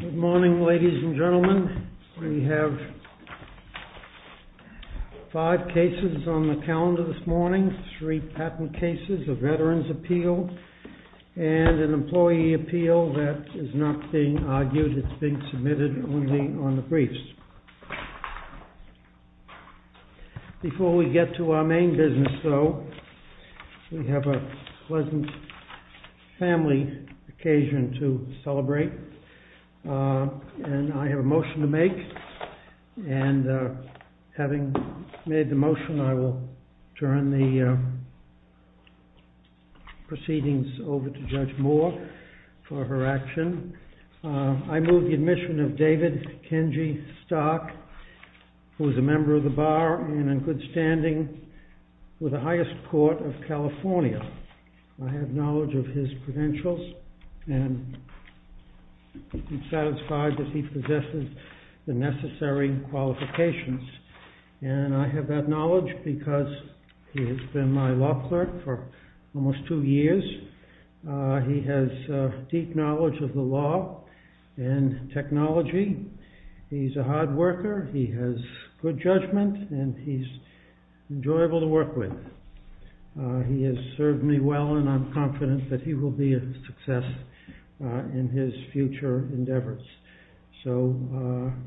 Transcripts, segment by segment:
Good morning, ladies and gentlemen. We have five cases on the calendar this morning, three patent cases, a veteran's appeal, and an employee appeal that is not being argued, it's being submitted only on the briefs. Before we get to our main business, though, we have a pleasant family occasion to celebrate, and I have a motion to make, and having made the motion, I will turn the proceedings over to Judge Moore for her action. I move the admission of David Kenji Stark, who is a member of the bar and in good standing with the highest court of California. I have knowledge of his credentials, and I'm satisfied that he possesses the necessary qualifications. And I have that knowledge because he has been my law clerk for almost two years. He has deep knowledge of the law and technology. He's a hard worker, he has good judgment, and he's enjoyable to work with. He has served me well, and I'm confident that he will be a success in his future endeavors. So,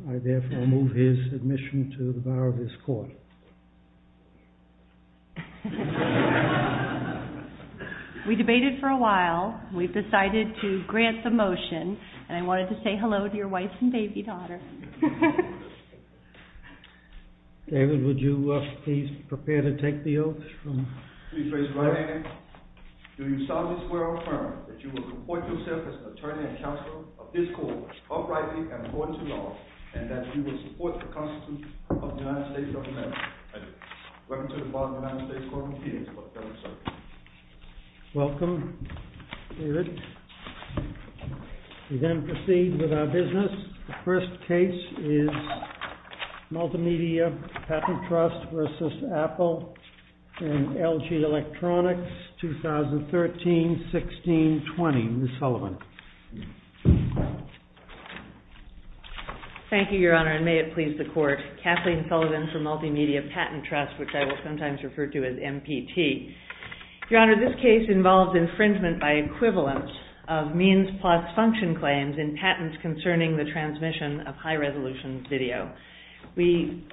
I therefore move his admission to the bar of this court. We debated for a while. We've decided to grant the motion, and I wanted to say hello to your wife and baby daughter. David, would you please prepare to take the oath? Please raise your right hand. Do you solemnly swear or affirm that you will comport yourself as attorney and counsel of this court uprightly and according to law, and that you will support the constitution of the United States of America? I do. Welcome to the bar of the United States Court of Appeals. Welcome, David. We then proceed with our business. The first case is Multimedia Patent Trust versus Apple and LG Electronics, 2013-16-20. Ms. Sullivan. Thank you, Your Honor, and may it please the court. Kathleen Sullivan from Multimedia Patent Trust, which I will sometimes refer to as MPT. Your Honor, this case involves infringement by equivalence of means plus function claims in patents concerning the transmission of high-resolution video. We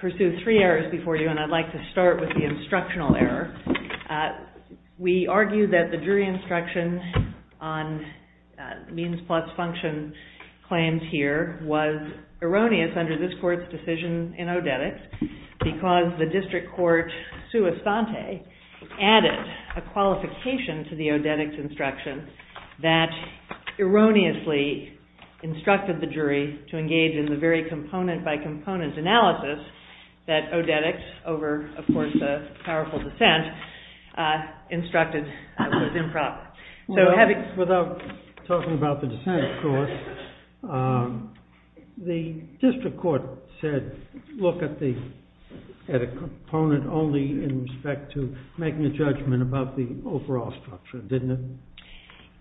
pursue three errors before you, and I'd like to start with the instructional error. We argue that the jury instruction on means plus function claims here was erroneous under this court's decision in Odetics because the district court, sua sante, added a qualification to the Odetics instruction that erroneously instructed the jury to engage in the very component-by-component analysis that Odetics, over, of course, the powerful dissent, instructed was improper. Without talking about the dissent, of course, the district court said look at a component only in respect to making a judgment about the overall structure, didn't it?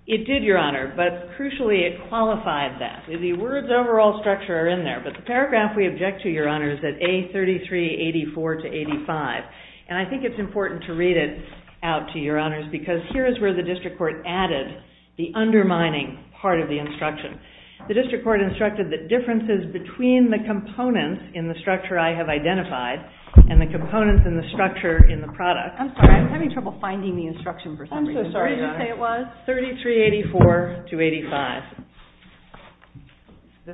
It did, Your Honor, but crucially, it qualified that. The words overall structure are in there, but the paragraph we object to, Your Honor, is at A3384 to 85. And I think it's important to read it out to Your Honors because here is where the district court added the undermining part of the instruction. The district court instructed that differences between the components in the structure I have identified and the components in the structure in the product I'm sorry, I'm having trouble finding the instruction for some reason. I'm so sorry, Your Honor. Did you say it was? 3384 to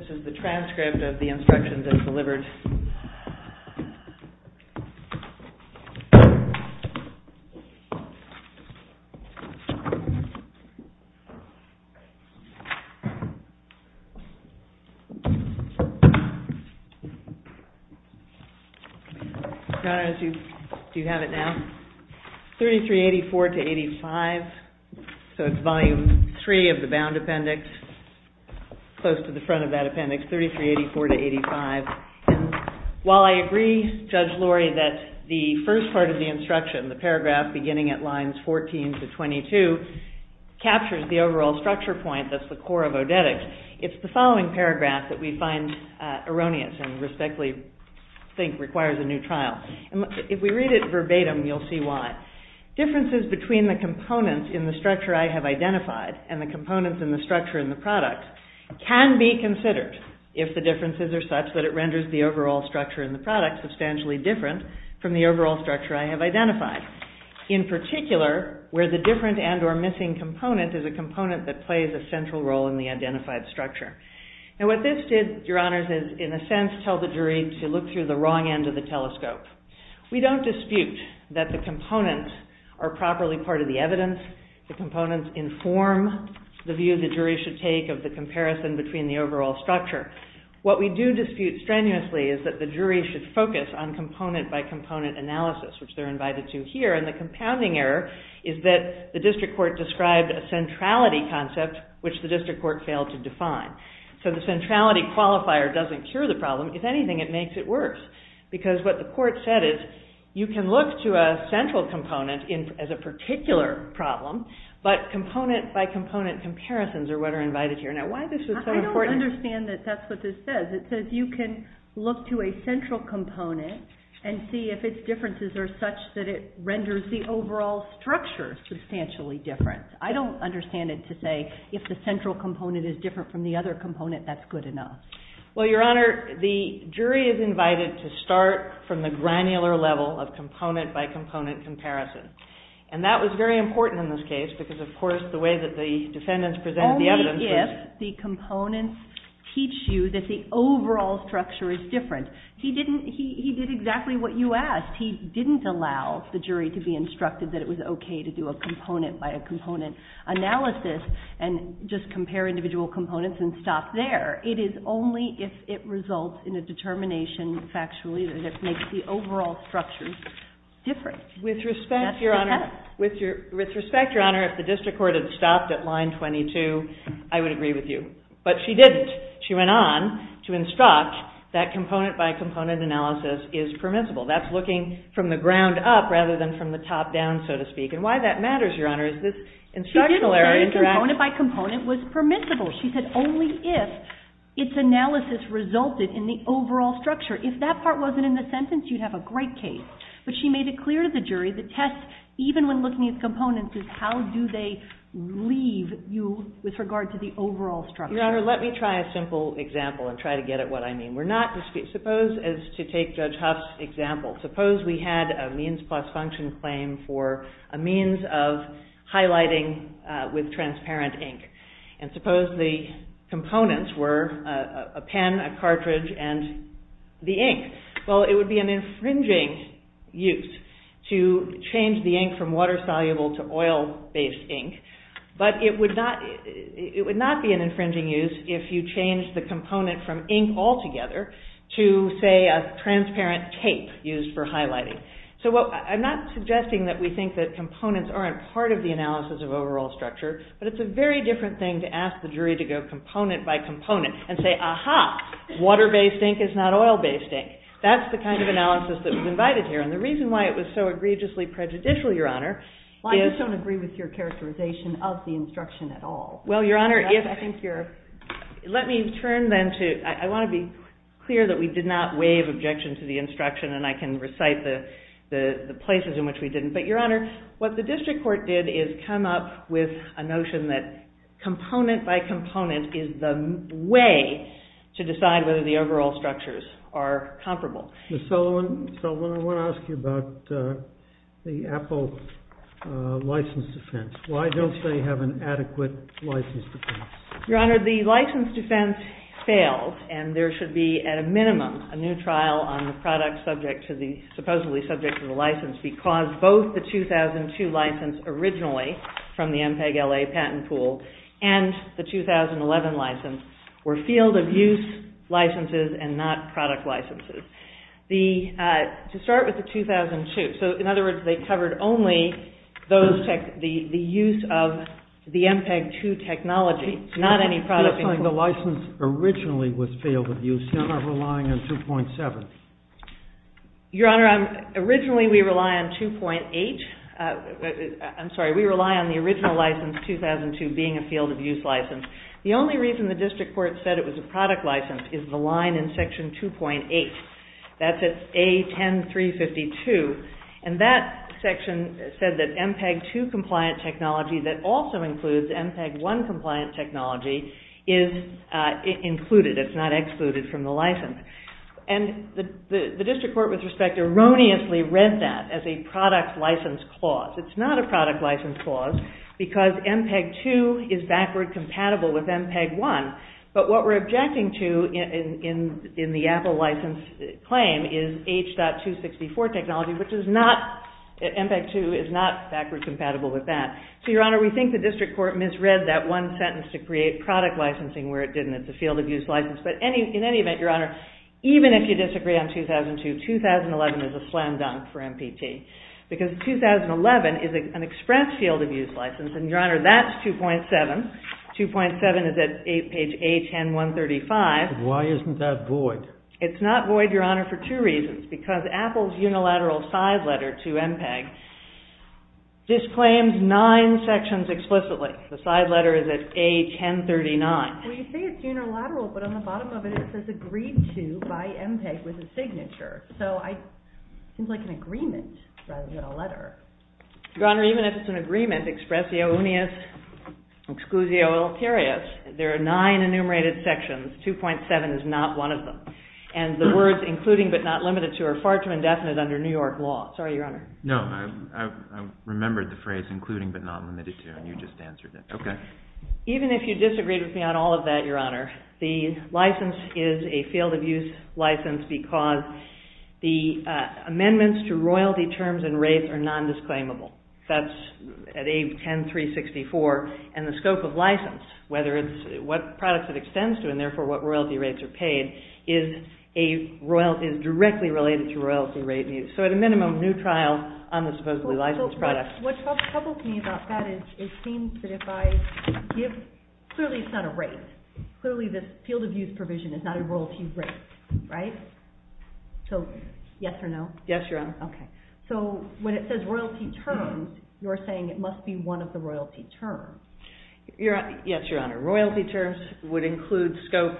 85. Your Honor, do you have it now? 3384 to 85. So it's Volume 3 of the Bound Appendix, close to the front of that appendix, 3384 to 85. While I agree, Judge Lurie, that the first part of the instruction, the paragraph beginning at lines 14 to 22, captures the overall structure point that's the core of odetics, it's the following paragraph that we find erroneous and respectfully think requires a new trial. If we read it verbatim, you'll see why. Differences between the components in the structure I have identified and the components in the structure in the product can be considered if the differences are such that it renders the overall structure in the product substantially different from the overall structure I have identified. In particular, where the different and or missing component is a component that plays a central role in the identified structure. Now what this did, Your Honors, is in a sense tell the jury to look through the wrong end of the telescope. We don't dispute that the components are properly part of the evidence. The components inform the view the jury should take of the comparison between the overall structure. What we do dispute strenuously is that the jury should focus on component-by-component analysis, which they're invited to here, and the compounding error is that the district court described a centrality concept, which the district court failed to define. So the centrality qualifier doesn't cure the problem. If anything, it makes it worse, because what the court said is you can look to a central component as a particular problem, but component-by-component comparisons are what are invited here. Now why this is so important... I don't understand that that's what this says. It says you can look to a central component and see if its differences are such that it renders the overall structure substantially different. I don't understand it to say if the central component is different from the other component, that's good enough. Well, Your Honor, the jury is invited to start from the granular level of component-by-component comparison. And that was very important in this case, because, of course, the way that the defendants presented the evidence was... Only if the components teach you that the overall structure is different. He did exactly what you asked. He didn't allow the jury to be instructed that it was okay to do a component-by-component analysis and just compare individual components and stop there. It is only if it results in a determination factually that it makes the overall structure different. With respect, Your Honor, if the district court had stopped at line 22, I would agree with you. But she didn't. She went on to instruct that component-by-component analysis is permissible. That's looking from the ground up rather than from the top down, so to speak. And why that matters, Your Honor, is this instructional area... She did say component-by-component was permissible. She said only if its analysis resulted in the overall structure. If that part wasn't in the sentence, you'd have a great case. But she made it clear to the jury the test, even when looking at components, is how do they leave you with regard to the overall structure. Your Honor, let me try a simple example and try to get at what I mean. We're not... Suppose, as to take Judge Huff's example, suppose we had a means-plus-function claim for a means of highlighting with transparent ink. And suppose the components were a pen, a cartridge, and the ink. Well, it would be an infringing use to change the ink from water-soluble to oil-based ink, but it would not be an infringing use if you changed the component from ink altogether to, say, a transparent tape used for highlighting. So I'm not suggesting that we think that components aren't part of the analysis of overall structure, but it's a very different thing to ask the jury to go component-by-component and say, aha, water-based ink is not oil-based ink. That's the kind of analysis that was invited here. And the reason why it was so egregiously prejudicial, Your Honor... Well, I just don't agree with your characterization of the instruction at all. Well, Your Honor, if... I think you're... Let me turn then to... I want to be clear that we did not waive objection to the instruction, and I can recite the places in which we didn't. But, Your Honor, what the district court did is come up with a notion that component-by-component is the way to decide whether the overall structures are comparable. Ms. Sullivan, I want to ask you about the Apple license defense. Why don't they have an adequate license defense? Your Honor, the license defense failed, and there should be, at a minimum, a new trial on the product supposedly subject to the license because both the 2002 license, originally from the MPEG-LA patent pool, and the 2011 license were field-of-use licenses and not product licenses. To start with the 2002, so, in other words, they covered only the use of the MPEG-2 technology, not any product... The license originally was field-of-use. You're not relying on 2.7. Your Honor, originally we rely on 2.8. I'm sorry. We rely on the original license, 2002, being a field-of-use license. The only reason the district court said it was a product license is the line in section 2.8. That's at A10352, and that section said that MPEG-2 compliant technology that also includes MPEG-1 compliant technology is included. It's not excluded from the license. And the district court, with respect, erroneously read that as a product license clause. It's not a product license clause because MPEG-2 is backward compatible with MPEG-1. But what we're objecting to in the Apple license claim is H.264 technology, which is not... MPEG-2 is not backward compatible with that. So, Your Honor, we think the district court misread that one sentence to create product licensing where it didn't. It's a field-of-use license. But in any event, Your Honor, even if you disagree on 2002, 2011 is a slam dunk for MPT because 2011 is an express field-of-use license. And, Your Honor, that's 2.7. 2.7 is at page A10135. Why isn't that void? It's not void, Your Honor, for two reasons. Because Apple's unilateral side letter to MPEG disclaims nine sections explicitly. The side letter is at A1039. Well, you say it's unilateral, but on the bottom of it it says agreed to by MPEG with a signature. So I... It seems like an agreement rather than a letter. Your Honor, even if it's an agreement, expressio unius, exclusio iletarius, there are nine enumerated sections. 2.7 is not one of them. And the words including but not limited to are far too indefinite under New York law. Sorry, Your Honor. No, I remembered the phrase including but not limited to, and you just answered it. Okay. Even if you disagreed with me on all of that, Your Honor, the license is a field-of-use license because the amendments to royalty terms and rates are non-disclaimable. That's at A10364. And the scope of license, whether it's what products it extends to and therefore what royalty rates are paid, is directly related to royalty rate. So at a minimum, new trial on the supposedly licensed product. What troubles me about that is it seems that if I give... Clearly it's not a rate. Clearly this field-of-use provision is not a royalty rate, right? So yes or no? Yes, Your Honor. Okay. So when it says royalty terms, you're saying it must be one of the royalty terms. Yes, Your Honor. Royalty terms would include scope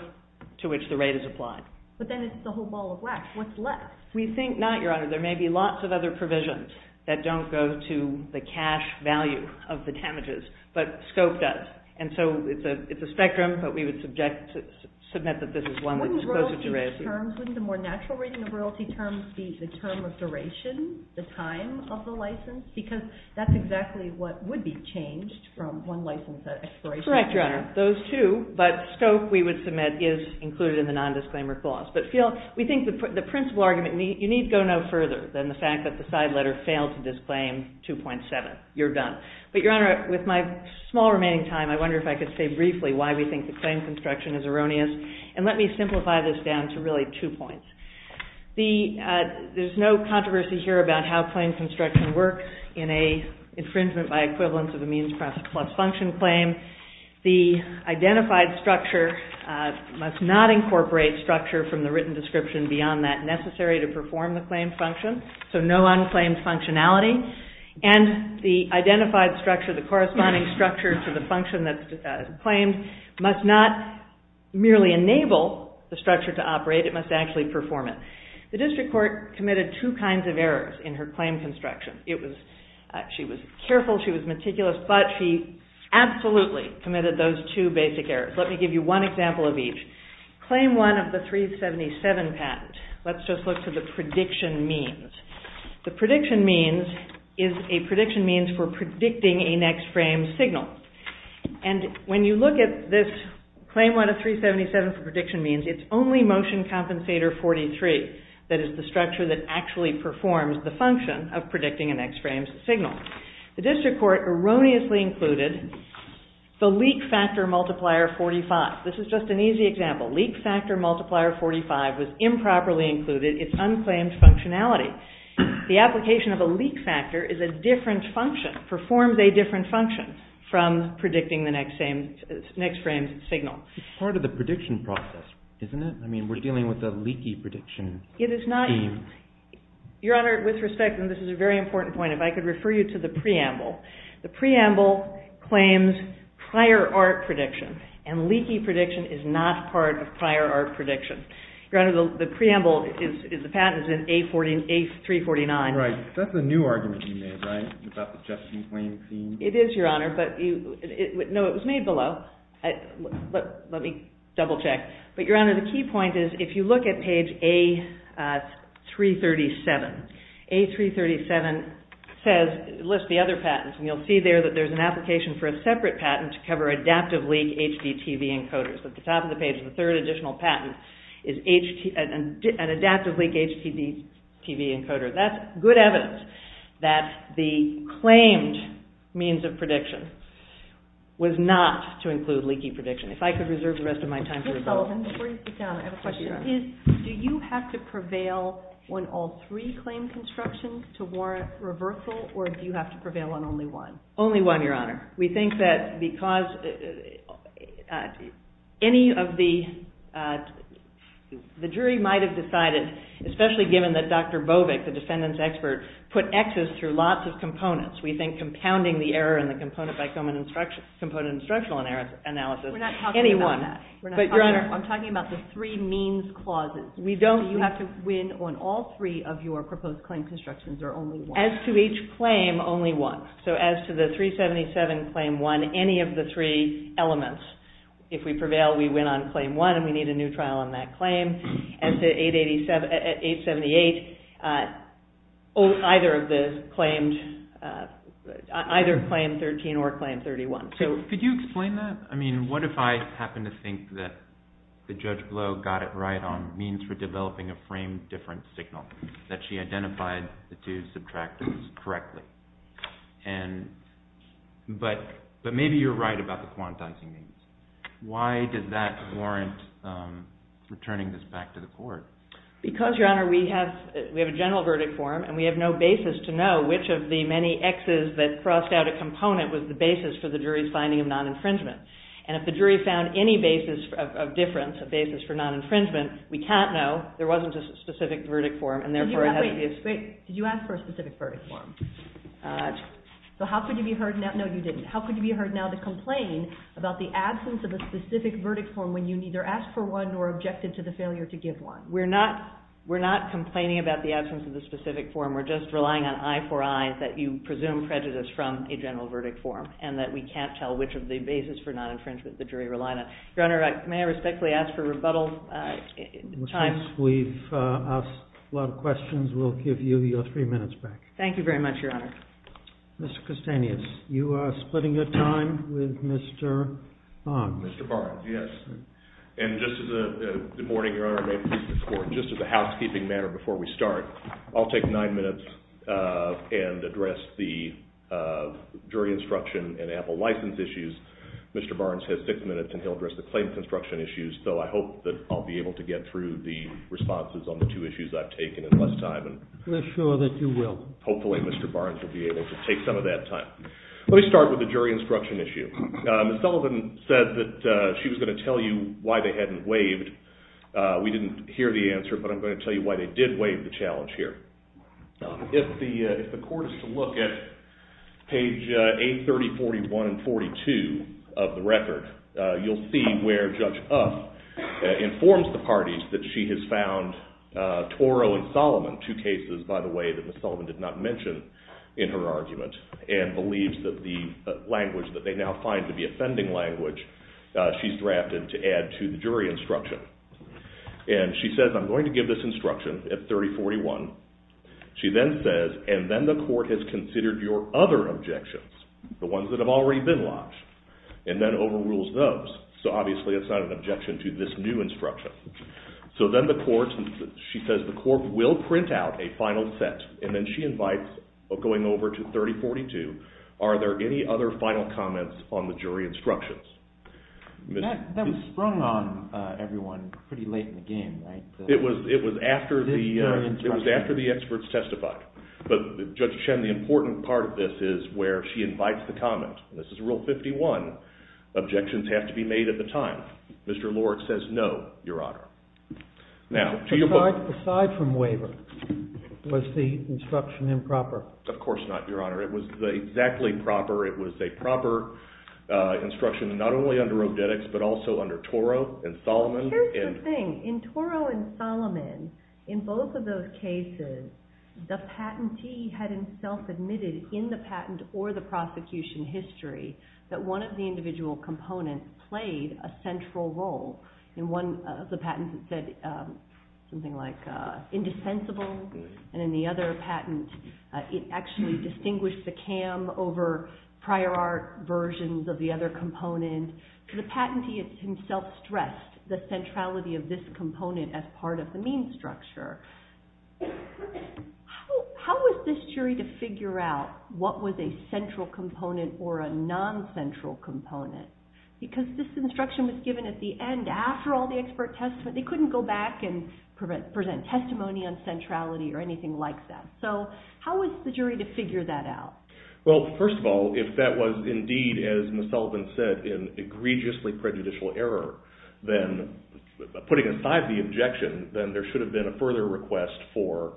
to which the rate is applied. But then it's the whole ball of wax. What's left? We think not, Your Honor. There may be lots of other provisions that don't go to the cash value of the damages, but scope does. And so it's a spectrum, but we would submit that this is one that's closer to royalty. Wouldn't the more natural rating of royalty terms be the term of duration, the time of the license? Because that's exactly what would be changed from one license expiration. Correct, Your Honor. Those two, but scope, we would submit, is included in the non-disclaimer clause. But we think the principal argument... You need to go no further than the fact that the side letter failed to disclaim 2.7. You're done. But, Your Honor, with my small remaining time, I wonder if I could say briefly why we think the claim construction is erroneous. And let me simplify this down to really two points. There's no controversy here about how claim construction works in an infringement by equivalence of a means plus function claim. The identified structure must not incorporate structure from the written description beyond that necessary to perform the claim function. So no unclaimed functionality. And the identified structure, the corresponding structure to the function that's claimed must not merely enable the structure to operate. It must actually perform it. The district court committed two kinds of errors in her claim construction. She was careful, she was meticulous, but she absolutely committed those two basic errors. Let me give you one example of each. Claim 1 of the 377 patent. Let's just look to the prediction means. The prediction means is a prediction means for predicting a next frame signal. And when you look at this, claim 1 of 377 for prediction means it's only motion compensator 43 that is the structure that actually performs the function of predicting a next frame signal. The district court erroneously included the leak factor multiplier 45. This is just an easy example. Leak factor multiplier 45 was improperly included. It's unclaimed functionality. The application of a leak factor is a different function, performs a different function from predicting the next frame signal. It's part of the prediction process, isn't it? I mean, we're dealing with a leaky prediction. It is not. Your Honor, with respect, and this is a very important point, if I could refer you to the preamble. The preamble claims prior art prediction, and leaky prediction is not part of prior art prediction. Your Honor, the preamble is, the patent is in A349. Right, that's a new argument you made, right? About the Justin Claims? It is, Your Honor. No, it was made below. Let me double check. But Your Honor, the key point is, if you look at page A337, A337 lists the other patents, and you'll see there that there's an application for a separate patent to cover adaptive leak HDTV encoders. At the top of the page, the third additional patent is an adaptive leak HDTV encoder. That's good evidence that the claimed means of prediction was not to include leaky prediction. If I could reserve the rest of my time for rebuttal. Ms. Sullivan, before you sit down, I have a question. Do you have to prevail on all three claim constructions to warrant reversal, or do you have to prevail on only one? Only one, Your Honor. We think that because any of the... The jury might have decided, especially given that Dr. Bovik, the defendant's expert, put Xs through lots of components. We think compounding the error in the component-by-component instructional analysis. We're not talking about that. But, Your Honor... I'm talking about the three means clauses. We don't... Do you have to win on all three of your proposed claim constructions, or only one? As to each claim, only one. So as to the 377 Claim 1, we don't win on any of the three elements. If we prevail, we win on Claim 1, and we need a new trial on that claim. As to 878, either of the claimed... Either Claim 13 or Claim 31. Could you explain that? I mean, what if I happen to think that Judge Blow got it right on means for developing a framed different signal, that she identified the two subtractives correctly? And... But maybe you're right about the quantizing means. Why did that warrant returning this back to the court? Because, Your Honor, we have a general verdict form, and we have no basis to know which of the many Xs that crossed out a component was the basis for the jury's finding of non-infringement. And if the jury found any basis of difference, a basis for non-infringement, we can't know. There wasn't a specific verdict form, and therefore it has to be a specific... So how could you be heard now... No, you didn't. How could you be heard now to complain about the absence of a specific verdict form when you neither asked for one nor objected to the failure to give one? We're not... We're not complaining about the absence of the specific form. We're just relying on eye for eye that you presume prejudice from a general verdict form, and that we can't tell which of the basis for non-infringement the jury relied on. Your Honor, may I respectfully ask for rebuttal? We've asked a lot of questions. We'll give you your three minutes back. Thank you very much, Your Honor. Mr. Kostanius, you are splitting your time with Mr. Barnes. Mr. Barnes, yes. And just as a... Good morning, Your Honor. May it please the Court. Just as a housekeeping matter before we start, I'll take nine minutes and address the jury instruction and Apple license issues. Mr. Barnes has six minutes, and he'll address the claim construction issues. So I hope that I'll be able to get through the responses on the two issues I've taken in less time. We're sure that you will. Hopefully Mr. Barnes will be able to take some of that time. Let me start with the jury instruction issue. Ms. Sullivan said that she was going to tell you why they hadn't waived. We didn't hear the answer, but I'm going to tell you why they did waive the challenge here. If the Court is to look at page 830, 41, and 42 of the record, you'll see where Judge Uff informs the parties that she has found Toro and Solomon, two cases, by the way, that Ms. Sullivan did not mention in her argument, and believes that the language that they now find to be offending language, she's drafted to add to the jury instruction. And she says, I'm going to give this instruction at 3041. She then says, and then the Court has considered your other objections, the ones that have already been lodged, and then overrules those. So obviously that's not an objection to this new instruction. So then the Court, she says, the Court will print out a final set, and then she invites, going over to 3042, are there any other final comments on the jury instructions? That was sprung on everyone pretty late in the game, right? It was after the experts testified. But Judge Chen, the important part of this is where she invites the comment. This is Rule 51. Objections have to be made at the time. Mr. Lorick says no, Your Honor. Now, to your point. Aside from waiver, was the instruction improper? Of course not, Your Honor. It was exactly proper. It was a proper instruction, not only under Odetics, but also under Toro and Solomon. Here's the thing. In Toro and Solomon, in both of those cases, the patentee had himself admitted in the patent or the prosecution history that one of the individual components played a central role. In one of the patents, it said something like indissensible, and in the other patent, it actually distinguished the CAM over prior art versions of the other component. The patentee himself stressed the centrality of this component as part of the means structure. How was this jury to figure out what was a central component or a non-central component? Because this instruction was given at the end, after all the expert testimony. They couldn't go back and present testimony on centrality or anything like that. So how was the jury to figure that out? Well, first of all, if that was indeed, as Ms. Sullivan said, an egregiously prejudicial error, then putting aside the objection, then there should have been a further request for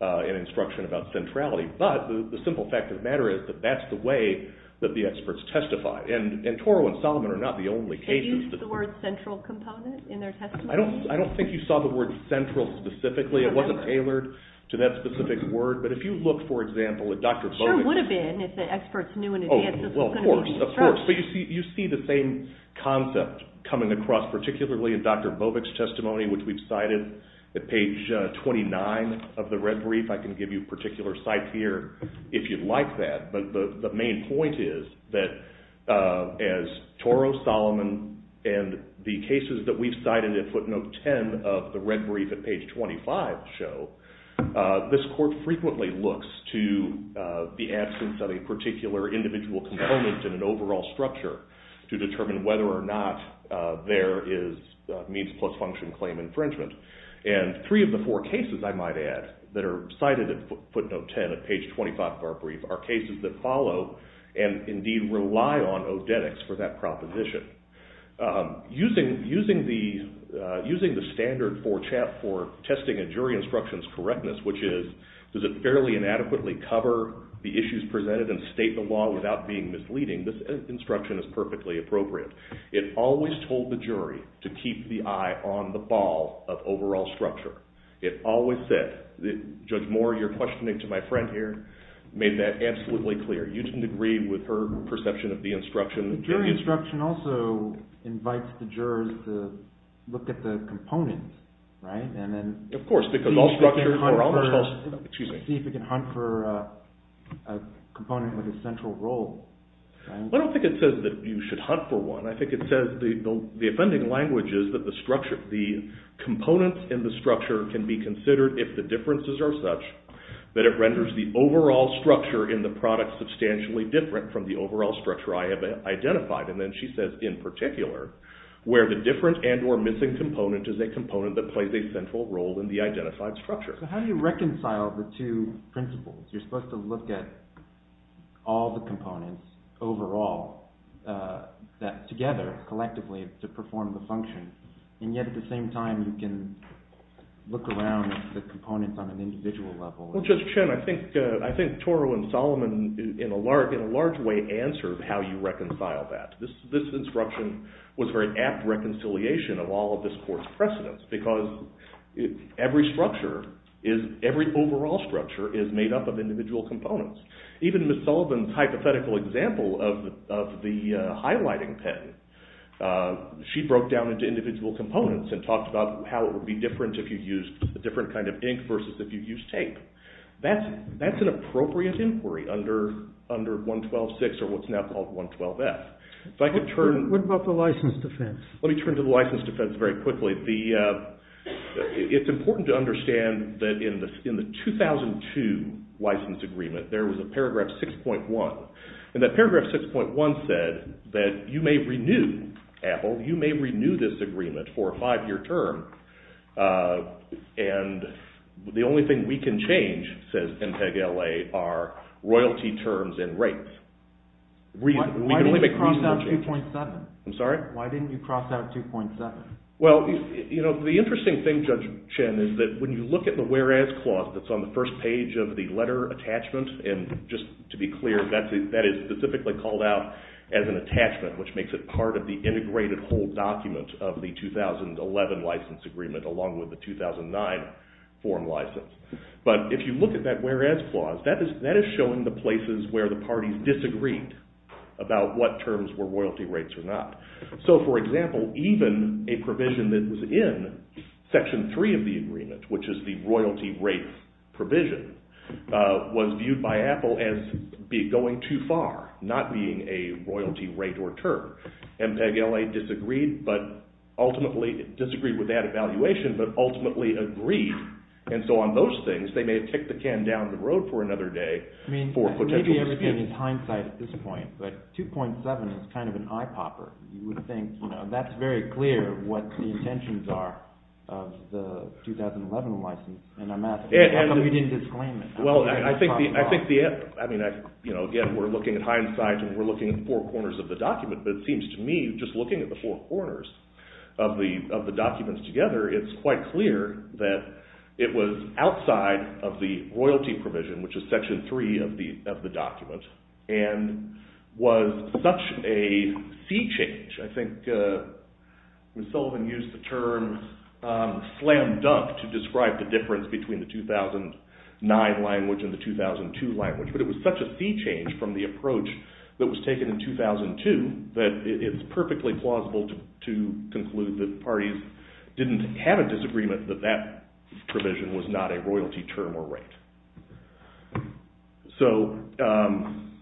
an instruction about centrality. But the simple fact of the matter is that that's the way that the experts testified. And Toro and Sullivan are not the only cases. Did they use the word central component in their testimony? I don't think you saw the word central specifically. It wasn't tailored to that specific word. But if you look, for example, at Dr. Bovik's... Sure would have been if the experts knew in advance this was going to be used first. But you see the same concept coming across, particularly in Dr. Bovik's testimony, which we've cited at page 29 of the red brief. I can give you a particular cite here if you'd like that. But the main point is that as Toro, Sullivan, and the cases that we've cited at footnote 10 of the red brief at page 25 show, this court frequently looks to the absence of a particular individual component in an overall structure to determine whether or not there is means plus function claim infringement. And three of the four cases, I might add, that are cited at footnote 10 at page 25 of our brief are cases that follow and indeed rely on odetics for that proposition. Using the standard for testing a jury instruction's correctness, which is does it fairly and adequately cover the issues presented and state the law without being misleading, this instruction is perfectly appropriate. It always told the jury to keep the eye on the ball of overall structure. It always said. Judge Moore, you're questioning to my friend here, made that absolutely clear. You didn't agree with her perception of the instruction. The jury instruction also invites the jurors to look at the components, right? And then... Of course, because all structures... See if it can hunt for a component with a central role. I don't think it says that you should hunt for one. I think it says the offending language is that the structure, the components in the structure can be considered, if the differences are such, that it renders the overall structure in the product substantially different from the overall structure I have identified. And then she says, in particular, where the different and or missing component is a component that plays a central role in the identified structure. So how do you reconcile the two principles? You're supposed to look at all the components overall, that together, collectively, to perform the function. And yet, at the same time, you can look around at the components on an individual level. Well, Judge Chen, I think Toro and Solomon in a large way answered how you reconcile that. This instruction was very apt reconciliation of all of this court's precedents, because every overall structure is made up of individual components. Even Ms. Sullivan's hypothetical example of the highlighting pen, she broke down into individual components and talked about how it would be different if you used a different kind of ink versus if you used tape. That's an appropriate inquiry under 112-6 or what's now called 112-F. If I could turn... What about the license defense? Let me turn to the license defense very quickly. It's important to understand that in the 2002 license agreement, there was a paragraph 6.1. And that paragraph 6.1 said that you may renew, Apple, you may renew this agreement for a five-year term, and the only thing we can change, says MPEG-LA, are royalty terms and rates. We can only make research... Why didn't you cross out 2.7? I'm sorry? Why didn't you cross out 2.7? Well, you know, the interesting thing, Judge Chen, is that when you look at the whereas clause that's on the first page of the letter attachment, and just to be clear, that is specifically called out as an attachment, which makes it part of the integrated whole document of the 2011 license agreement along with the 2009 form license. But if you look at that whereas clause, that is showing the places where the parties disagreed about what terms were royalty rates or not. So, for example, even a provision that was in Section 3 of the agreement, which is the royalty rates provision, was viewed by Apple as going too far, not being a royalty rate or term. MPEG-LA disagreed with that evaluation, but ultimately agreed. And so on those things, they may have kicked the can down the road for another day. Maybe everything is hindsight at this point, but 2.7 is kind of an eye popper. You would think that's very clear what the intentions are of the 2011 license. We didn't disclaim it. Again, we're looking at hindsight and we're looking at four corners of the document, but it seems to me, just looking at the four corners of the documents together, it's quite clear that it was outside of the royalty provision, which is Section 3 of the document, and was such a sea change. I think Ms. Sullivan used the term slam dunk to describe the difference between the 2009 language and the 2002 language, but it was such a sea change from the approach that was taken in 2002 that it's perfectly plausible to conclude that parties didn't have a disagreement that that provision was not a royalty term or rate.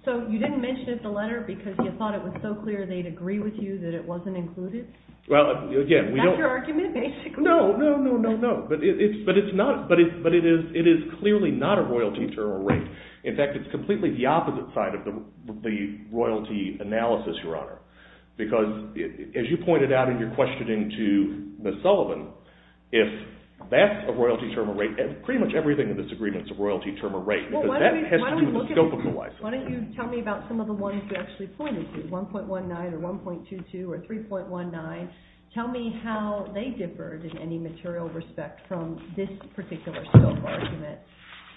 So you didn't mention it in the letter because you thought it was so clear they'd agree with you that it wasn't included? That's your argument, basically. No, but it is clearly not a royalty term or rate. In fact, it's completely the opposite side of the royalty analysis, Your Honor, because as you pointed out in your questioning to Ms. Sullivan, if that's a royalty term or rate, pretty much everything in this agreement is a royalty term or rate, because that has to do with the scope of the license. Why don't you tell me about some of the ones you actually pointed to, 1.19 or 1.22 or 3.19. Tell me how they differed in any material respect from this particular scope argument,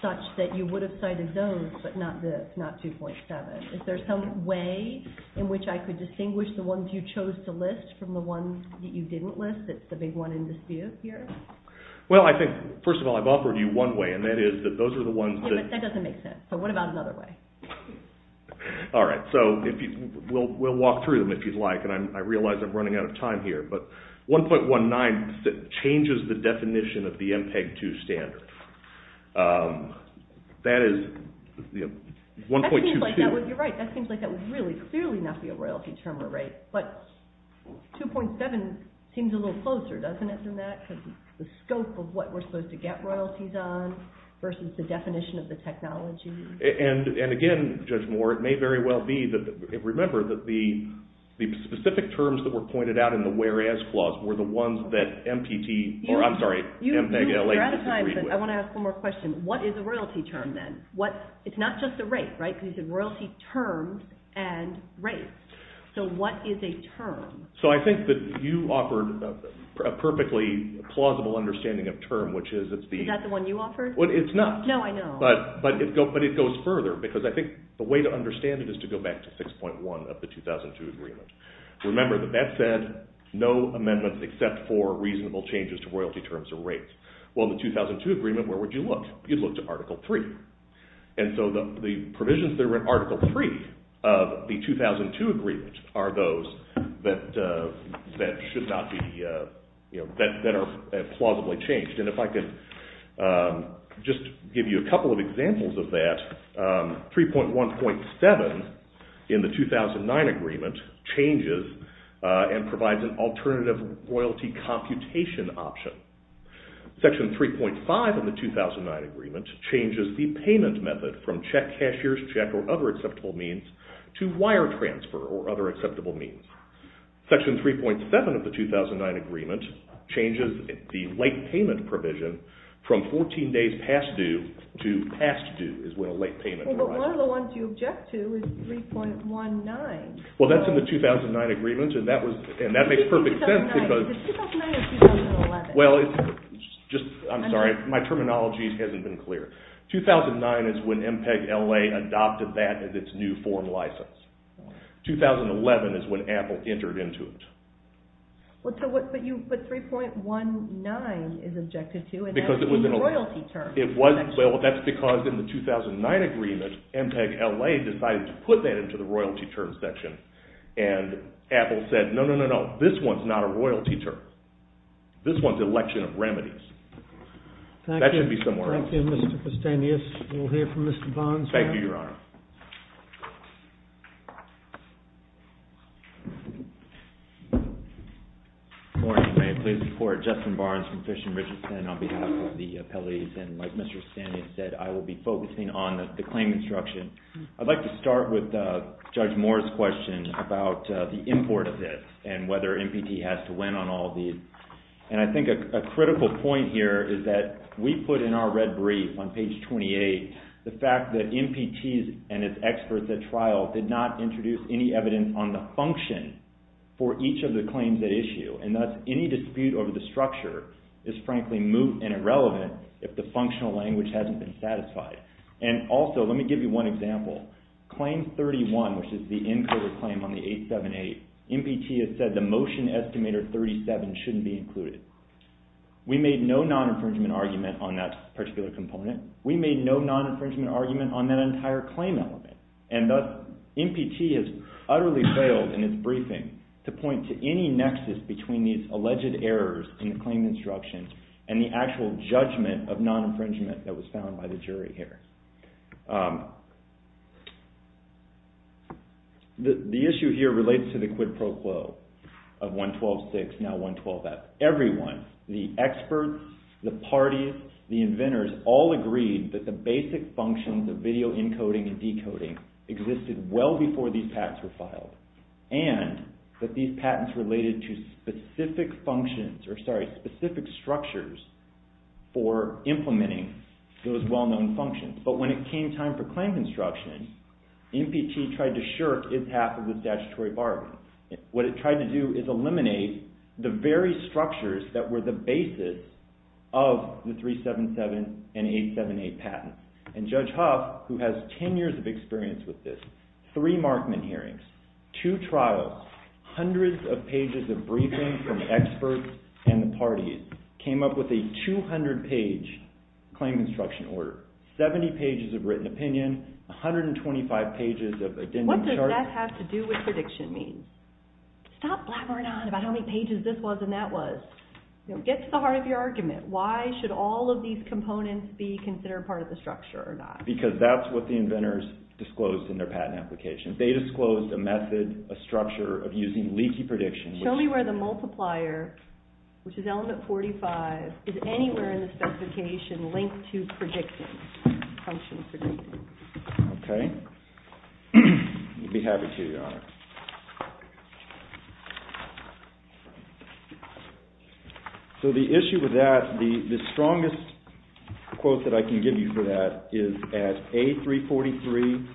such that you would have cited those, but not this, not 2.7. Is there some way in which I could distinguish the ones you chose to list from the ones that you didn't list that's the big one in dispute here? Well, I think, first of all, I've offered you one way, and that is that those are the ones that... Yeah, but that doesn't make sense, so what about another way? All right, so we'll walk through them if you'd like, and I realize I'm running out of time here, but 1.19 changes the definition of the MPEG-2 standard. That is 1.22... You're right, that seems like that would really clearly not be a royalty term or rate, but 2.7 seems a little closer, doesn't it, than that? Because the scope of what we're supposed to get royalties on versus the definition of the technology... And again, Judge Moore, it may very well be that... The specific terms that were pointed out in the whereas clause were the ones that MPT... I'm sorry, M-L-A... You're out of time, but I want to ask one more question. What is a royalty term, then? It's not just a rate, right? Because you said royalty terms and rates. So what is a term? So I think that you offered a perfectly plausible understanding of term, which is that the... Is that the one you offered? Well, it's not. No, I know. But it goes further, because I think the way to understand it is to go back to 6.1 of the 2002 agreement. Remember that that said, no amendments except for reasonable changes to royalty terms or rates. Well, in the 2002 agreement, where would you look? You'd look to Article 3. And so the provisions that are in Article 3 of the 2002 agreement are those that should not be... that are plausibly changed. And if I can just give you a couple of examples of that, 3.1.7 in the 2009 agreement changes and provides an alternative royalty computation option. Section 3.5 in the 2009 agreement changes the payment method from check, cashier's check, or other acceptable means, to wire transfer or other acceptable means. Section 3.7 of the 2009 agreement changes the late payment provision from 14 days past due to past due is when a late payment arrives. Well, but one of the ones you object to is 3.19. Well, that's in the 2009 agreement, and that makes perfect sense because... Is it 2009 or 2011? Well, it's just... I'm sorry. My terminology hasn't been clear. 2009 is when MPEG-LA adopted that as its new form license. 2011 is when Apple entered into it. But 3.19 is objected to, and that's in the royalty term section. Well, that's because in the 2009 agreement, MPEG-LA decided to put that into the royalty term section, and Apple said, no, no, no, no, this one's not a royalty term. This one's election of remedies. That should be somewhere else. Thank you, Mr. Castanis. We'll hear from Mr. Barnes now. Thank you, Your Honor. Good morning, ma'am. Please support Justin Barnes from Fish and Richardson on behalf of the appellees, and like Mr. Castanis said, I will be focusing on the claim instruction. I'd like to start with Judge Moore's question about the import of this and whether MPT has to win on all these. And I think a critical point here is that we put in our red brief on page 28 the fact that MPT's importer and its experts at trial did not introduce any evidence on the function for each of the claims at issue, and thus any dispute over the structure is frankly moot and irrelevant if the functional language hasn't been satisfied. And also, let me give you one example. Claim 31, which is the encoder claim on the 878, MPT has said the motion estimator 37 shouldn't be included. We made no non-infringement argument on that particular component. We made no non-infringement argument on that entire claim element. And thus, MPT has utterly failed in its briefing to point to any nexus between these alleged errors in the claim instructions and the actual judgment of non-infringement that was found by the jury here. The issue here relates to the quid pro quo of 112.6, now 112.f. Everyone, the experts, the parties, the inventors, all agreed that the basic functions of video encoding and decoding existed well before these patents were filed, and that these patents related to specific functions, or sorry, specific structures for implementing those well-known functions. But when it came time for claim construction, MPT tried to shirk its half of the statutory bargain. What it tried to do is eliminate the very structures that were the basis of the 377 and 878 patents. And Judge Huff, who has 10 years of experience with this, three Markman hearings, two trials, hundreds of pages of briefing from experts and the parties, came up with a 200-page claim construction order, 70 pages of written opinion, 125 pages of addendum charts... What does that have to do with prediction means? Stop blabbering on about how many pages this was and that was. Get to the heart of your argument. Why should all of these components be considered part of the structure or not? Because that's what the inventors disclosed in their patent applications. They disclosed a method, a structure, of using leaky predictions. Show me where the multiplier, which is element 45, is anywhere in the specification linked to predictions, function predictions. Okay. You'll be happy to, Your Honor. So the issue with that, the strongest quote that I can give you for that is at A343,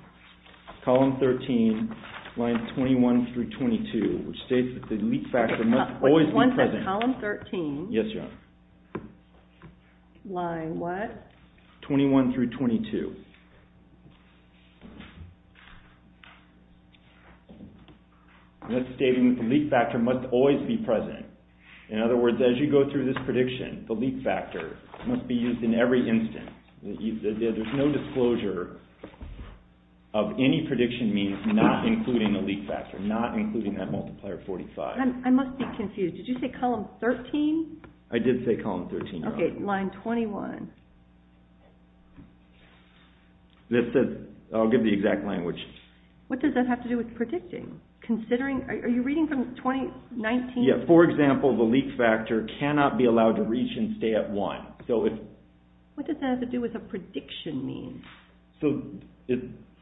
column 13, lines 21 through 22, which states that the leak factor must always be present. Yes, Your Honor. Line what? 21 through 22. That's stating that the leak factor must always be present. In other words, as you go through this prediction, the leak factor must be used in every instant. There's no disclosure of any prediction means not including a leak factor, not including that multiplier 45. I must be confused. Did you say column 13? I did say column 13, Your Honor. Okay, line 21. This says, I'll give the exact language. What does that have to do with predicting? Are you reading from 2019? Yeah, for example, the leak factor cannot be allowed to reach and stay at one. What does that have to do with a prediction mean?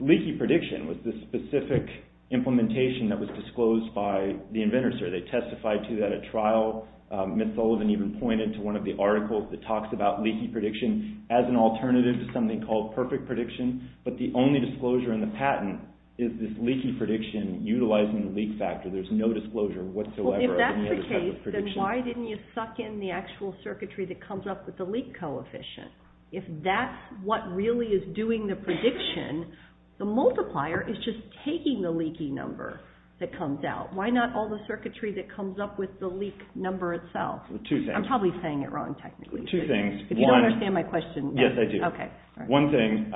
Leaky prediction was the specific implementation that was disclosed by the inventor, sir. They testified to that at trial. Mitt Sullivan even pointed to one of the articles that talks about leaky prediction as an alternative to something called perfect prediction, but the only disclosure in the patent is this leaky prediction utilizing the leak factor. There's no disclosure whatsoever. Well, if that's the case, then why didn't you suck in the actual circuitry that comes up with the leak coefficient? If that's what really is doing the prediction, the multiplier is just taking the leaky number that comes out. Why not all the circuitry that comes up with the leak number itself? Two things. I'm probably saying it wrong, technically. Two things. If you don't understand my question. Yes, I do. Okay. One thing,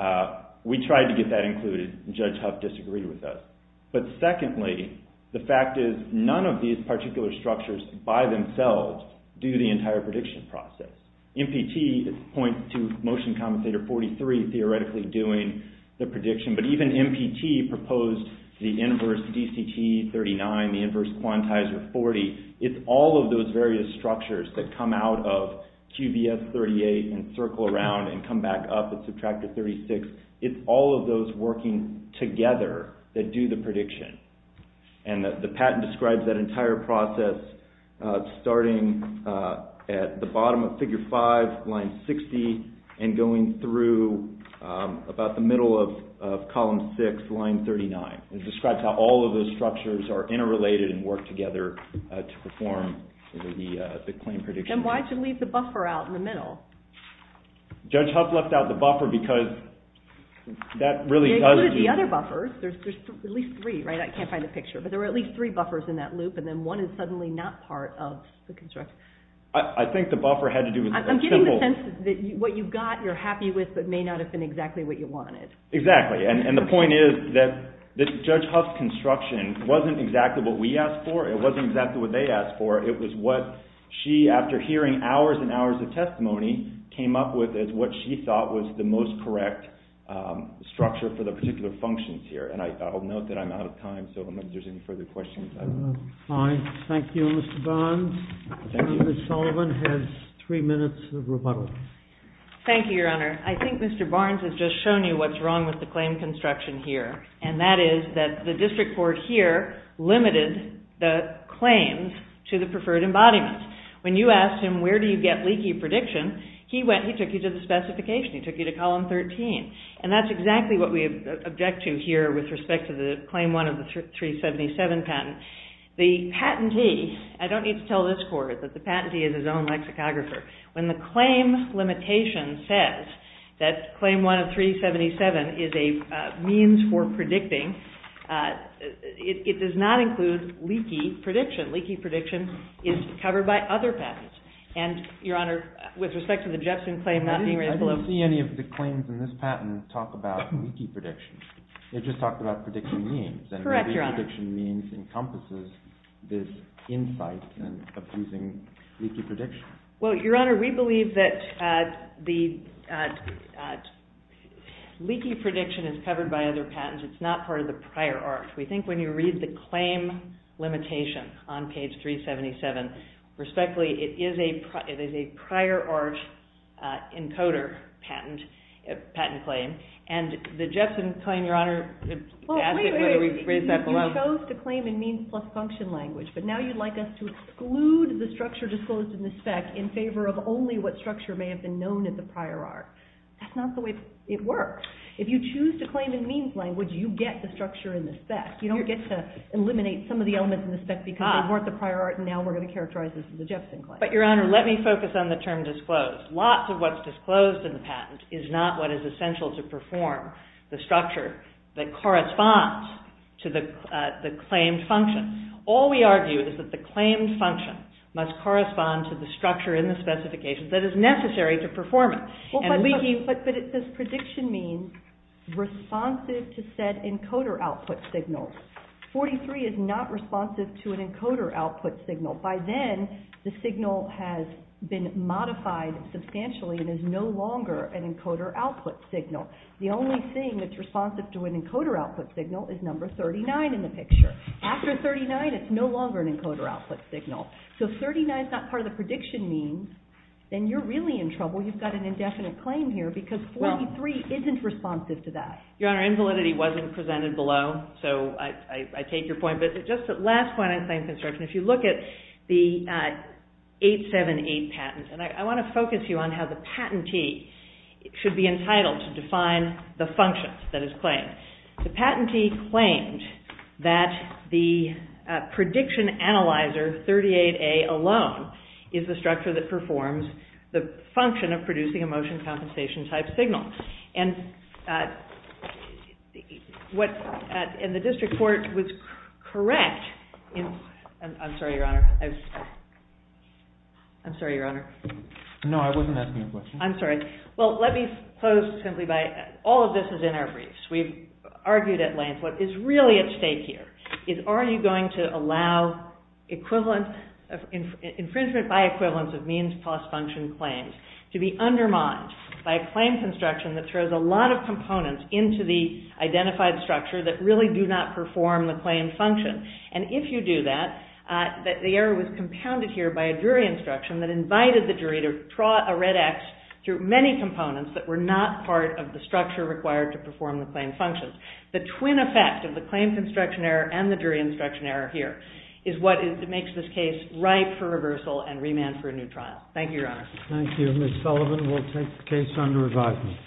we tried to get that included. Judge Huff disagreed with us. But secondly, the fact is none of these particular structures by themselves do the entire prediction process. MPT points to motion compensator 43 theoretically doing the prediction, but even MPT proposed the inverse DCT39, the inverse quantizer 40. It's all of those various structures that come out of QVS38 and circle around and come back up and subtract to 36. It's all of those working together that do the prediction. And the patent describes that entire process starting at the bottom of figure 5, line 60, and going through about the middle of column 6, line 39. It describes how all of those structures are interrelated and work together to perform the claim prediction. And why did you leave the buffer out in the middle? Judge Huff left out the buffer because that really does... They included the other buffers. There's at least three, right? I can't find the picture. But there were at least three buffers in that loop and then one is suddenly not part of the construction. I think the buffer had to do with a simple... I'm getting the sense that what you got, you're happy with, but may not have been exactly what you wanted. Exactly. And the point is that Judge Huff's construction wasn't exactly what we asked for. It wasn't exactly what they asked for. It was what she, after hearing hours and hours of testimony, came up with as what she thought was the most correct structure for the particular functions here. And I'll note that I'm out of time, so if there's any further questions... Fine. Thank you, Mr. Barnes. Ms. Sullivan has three minutes of rebuttal. Thank you, Your Honor. I think Mr. Barnes has just shown you what's wrong with the claim construction here, and that is that the district court here limited the claims to the preferred embodiment. When you asked him, where do you get leaky prediction, he took you to the specification. He took you to Column 13. And that's exactly what we object to here with respect to the Claim 1 of the 377 patent. The patentee... I don't need to tell this court that the patentee is his own lexicographer. When the claim limitation says that Claim 1 of 377 is a means for predicting, it does not include leaky prediction. Leaky prediction is covered by other patents. And, Your Honor, with respect to the Jepson claim... I didn't see any of the claims in this patent talk about leaky prediction. It just talked about prediction means. Correct, Your Honor. And leaky prediction means encompasses this insight of using leaky prediction. Well, Your Honor, we believe that the leaky prediction is covered by other patents. It's not part of the prior art. We think when you read the claim limitation on page 377, respectfully, it is a prior art encoder patent claim. And the Jepson claim, Your Honor... Wait, wait, wait. You chose to claim in means plus function language, but now you'd like us to exclude the structure disclosed in the spec in favor of only what structure may have been known in the prior art. That's not the way it works. If you choose to claim in means language, You don't get to eliminate some of the elements in the spec because they weren't the prior art, and now we're going to characterize this as a Jepson claim. But, Your Honor, let me focus on the term disclosed. Lots of what's disclosed in the patent is not what is essential to perform the structure that corresponds to the claimed function. All we argue is that the claimed function must correspond to the structure in the specification that is necessary to perform it. And leaky... But it says prediction means responsive to said encoder output signals. 43 is not responsive to an encoder output signal. By then, the signal has been modified substantially and is no longer an encoder output signal. The only thing that's responsive to an encoder output signal is number 39 in the picture. After 39, it's no longer an encoder output signal. So if 39's not part of the prediction means, then you're really in trouble. You've got an indefinite claim here because 43 isn't responsive to that. Your Honor, invalidity wasn't presented below, so I take your point. But just the last point I'd like to make, if you look at the 878 patent, and I want to focus you on how the patentee should be entitled to define the function that is claimed. The patentee claimed that the prediction analyzer 38A alone is the structure that performs the function of producing a motion compensation-type signal. And the district court was correct in... I'm sorry, Your Honor. I'm sorry, Your Honor. No, I wasn't asking a question. I'm sorry. Well, let me close simply by... All of this is in our briefs. We've argued at length what is really at stake here is are you going to allow infringement by equivalence of means plus function claims to be undermined by a claim construction that throws a lot of components into the identified structure that really do not perform the claim function? And if you do that, the error was compounded here by a jury instruction that invited the jury to draw a red X through many components that were not part of the structure required to perform the claim function. The twin effect of the claim construction error and the jury instruction error here and remand for a new trial. Thank you, Your Honor. Thank you. Ms. Sullivan will take the case under review.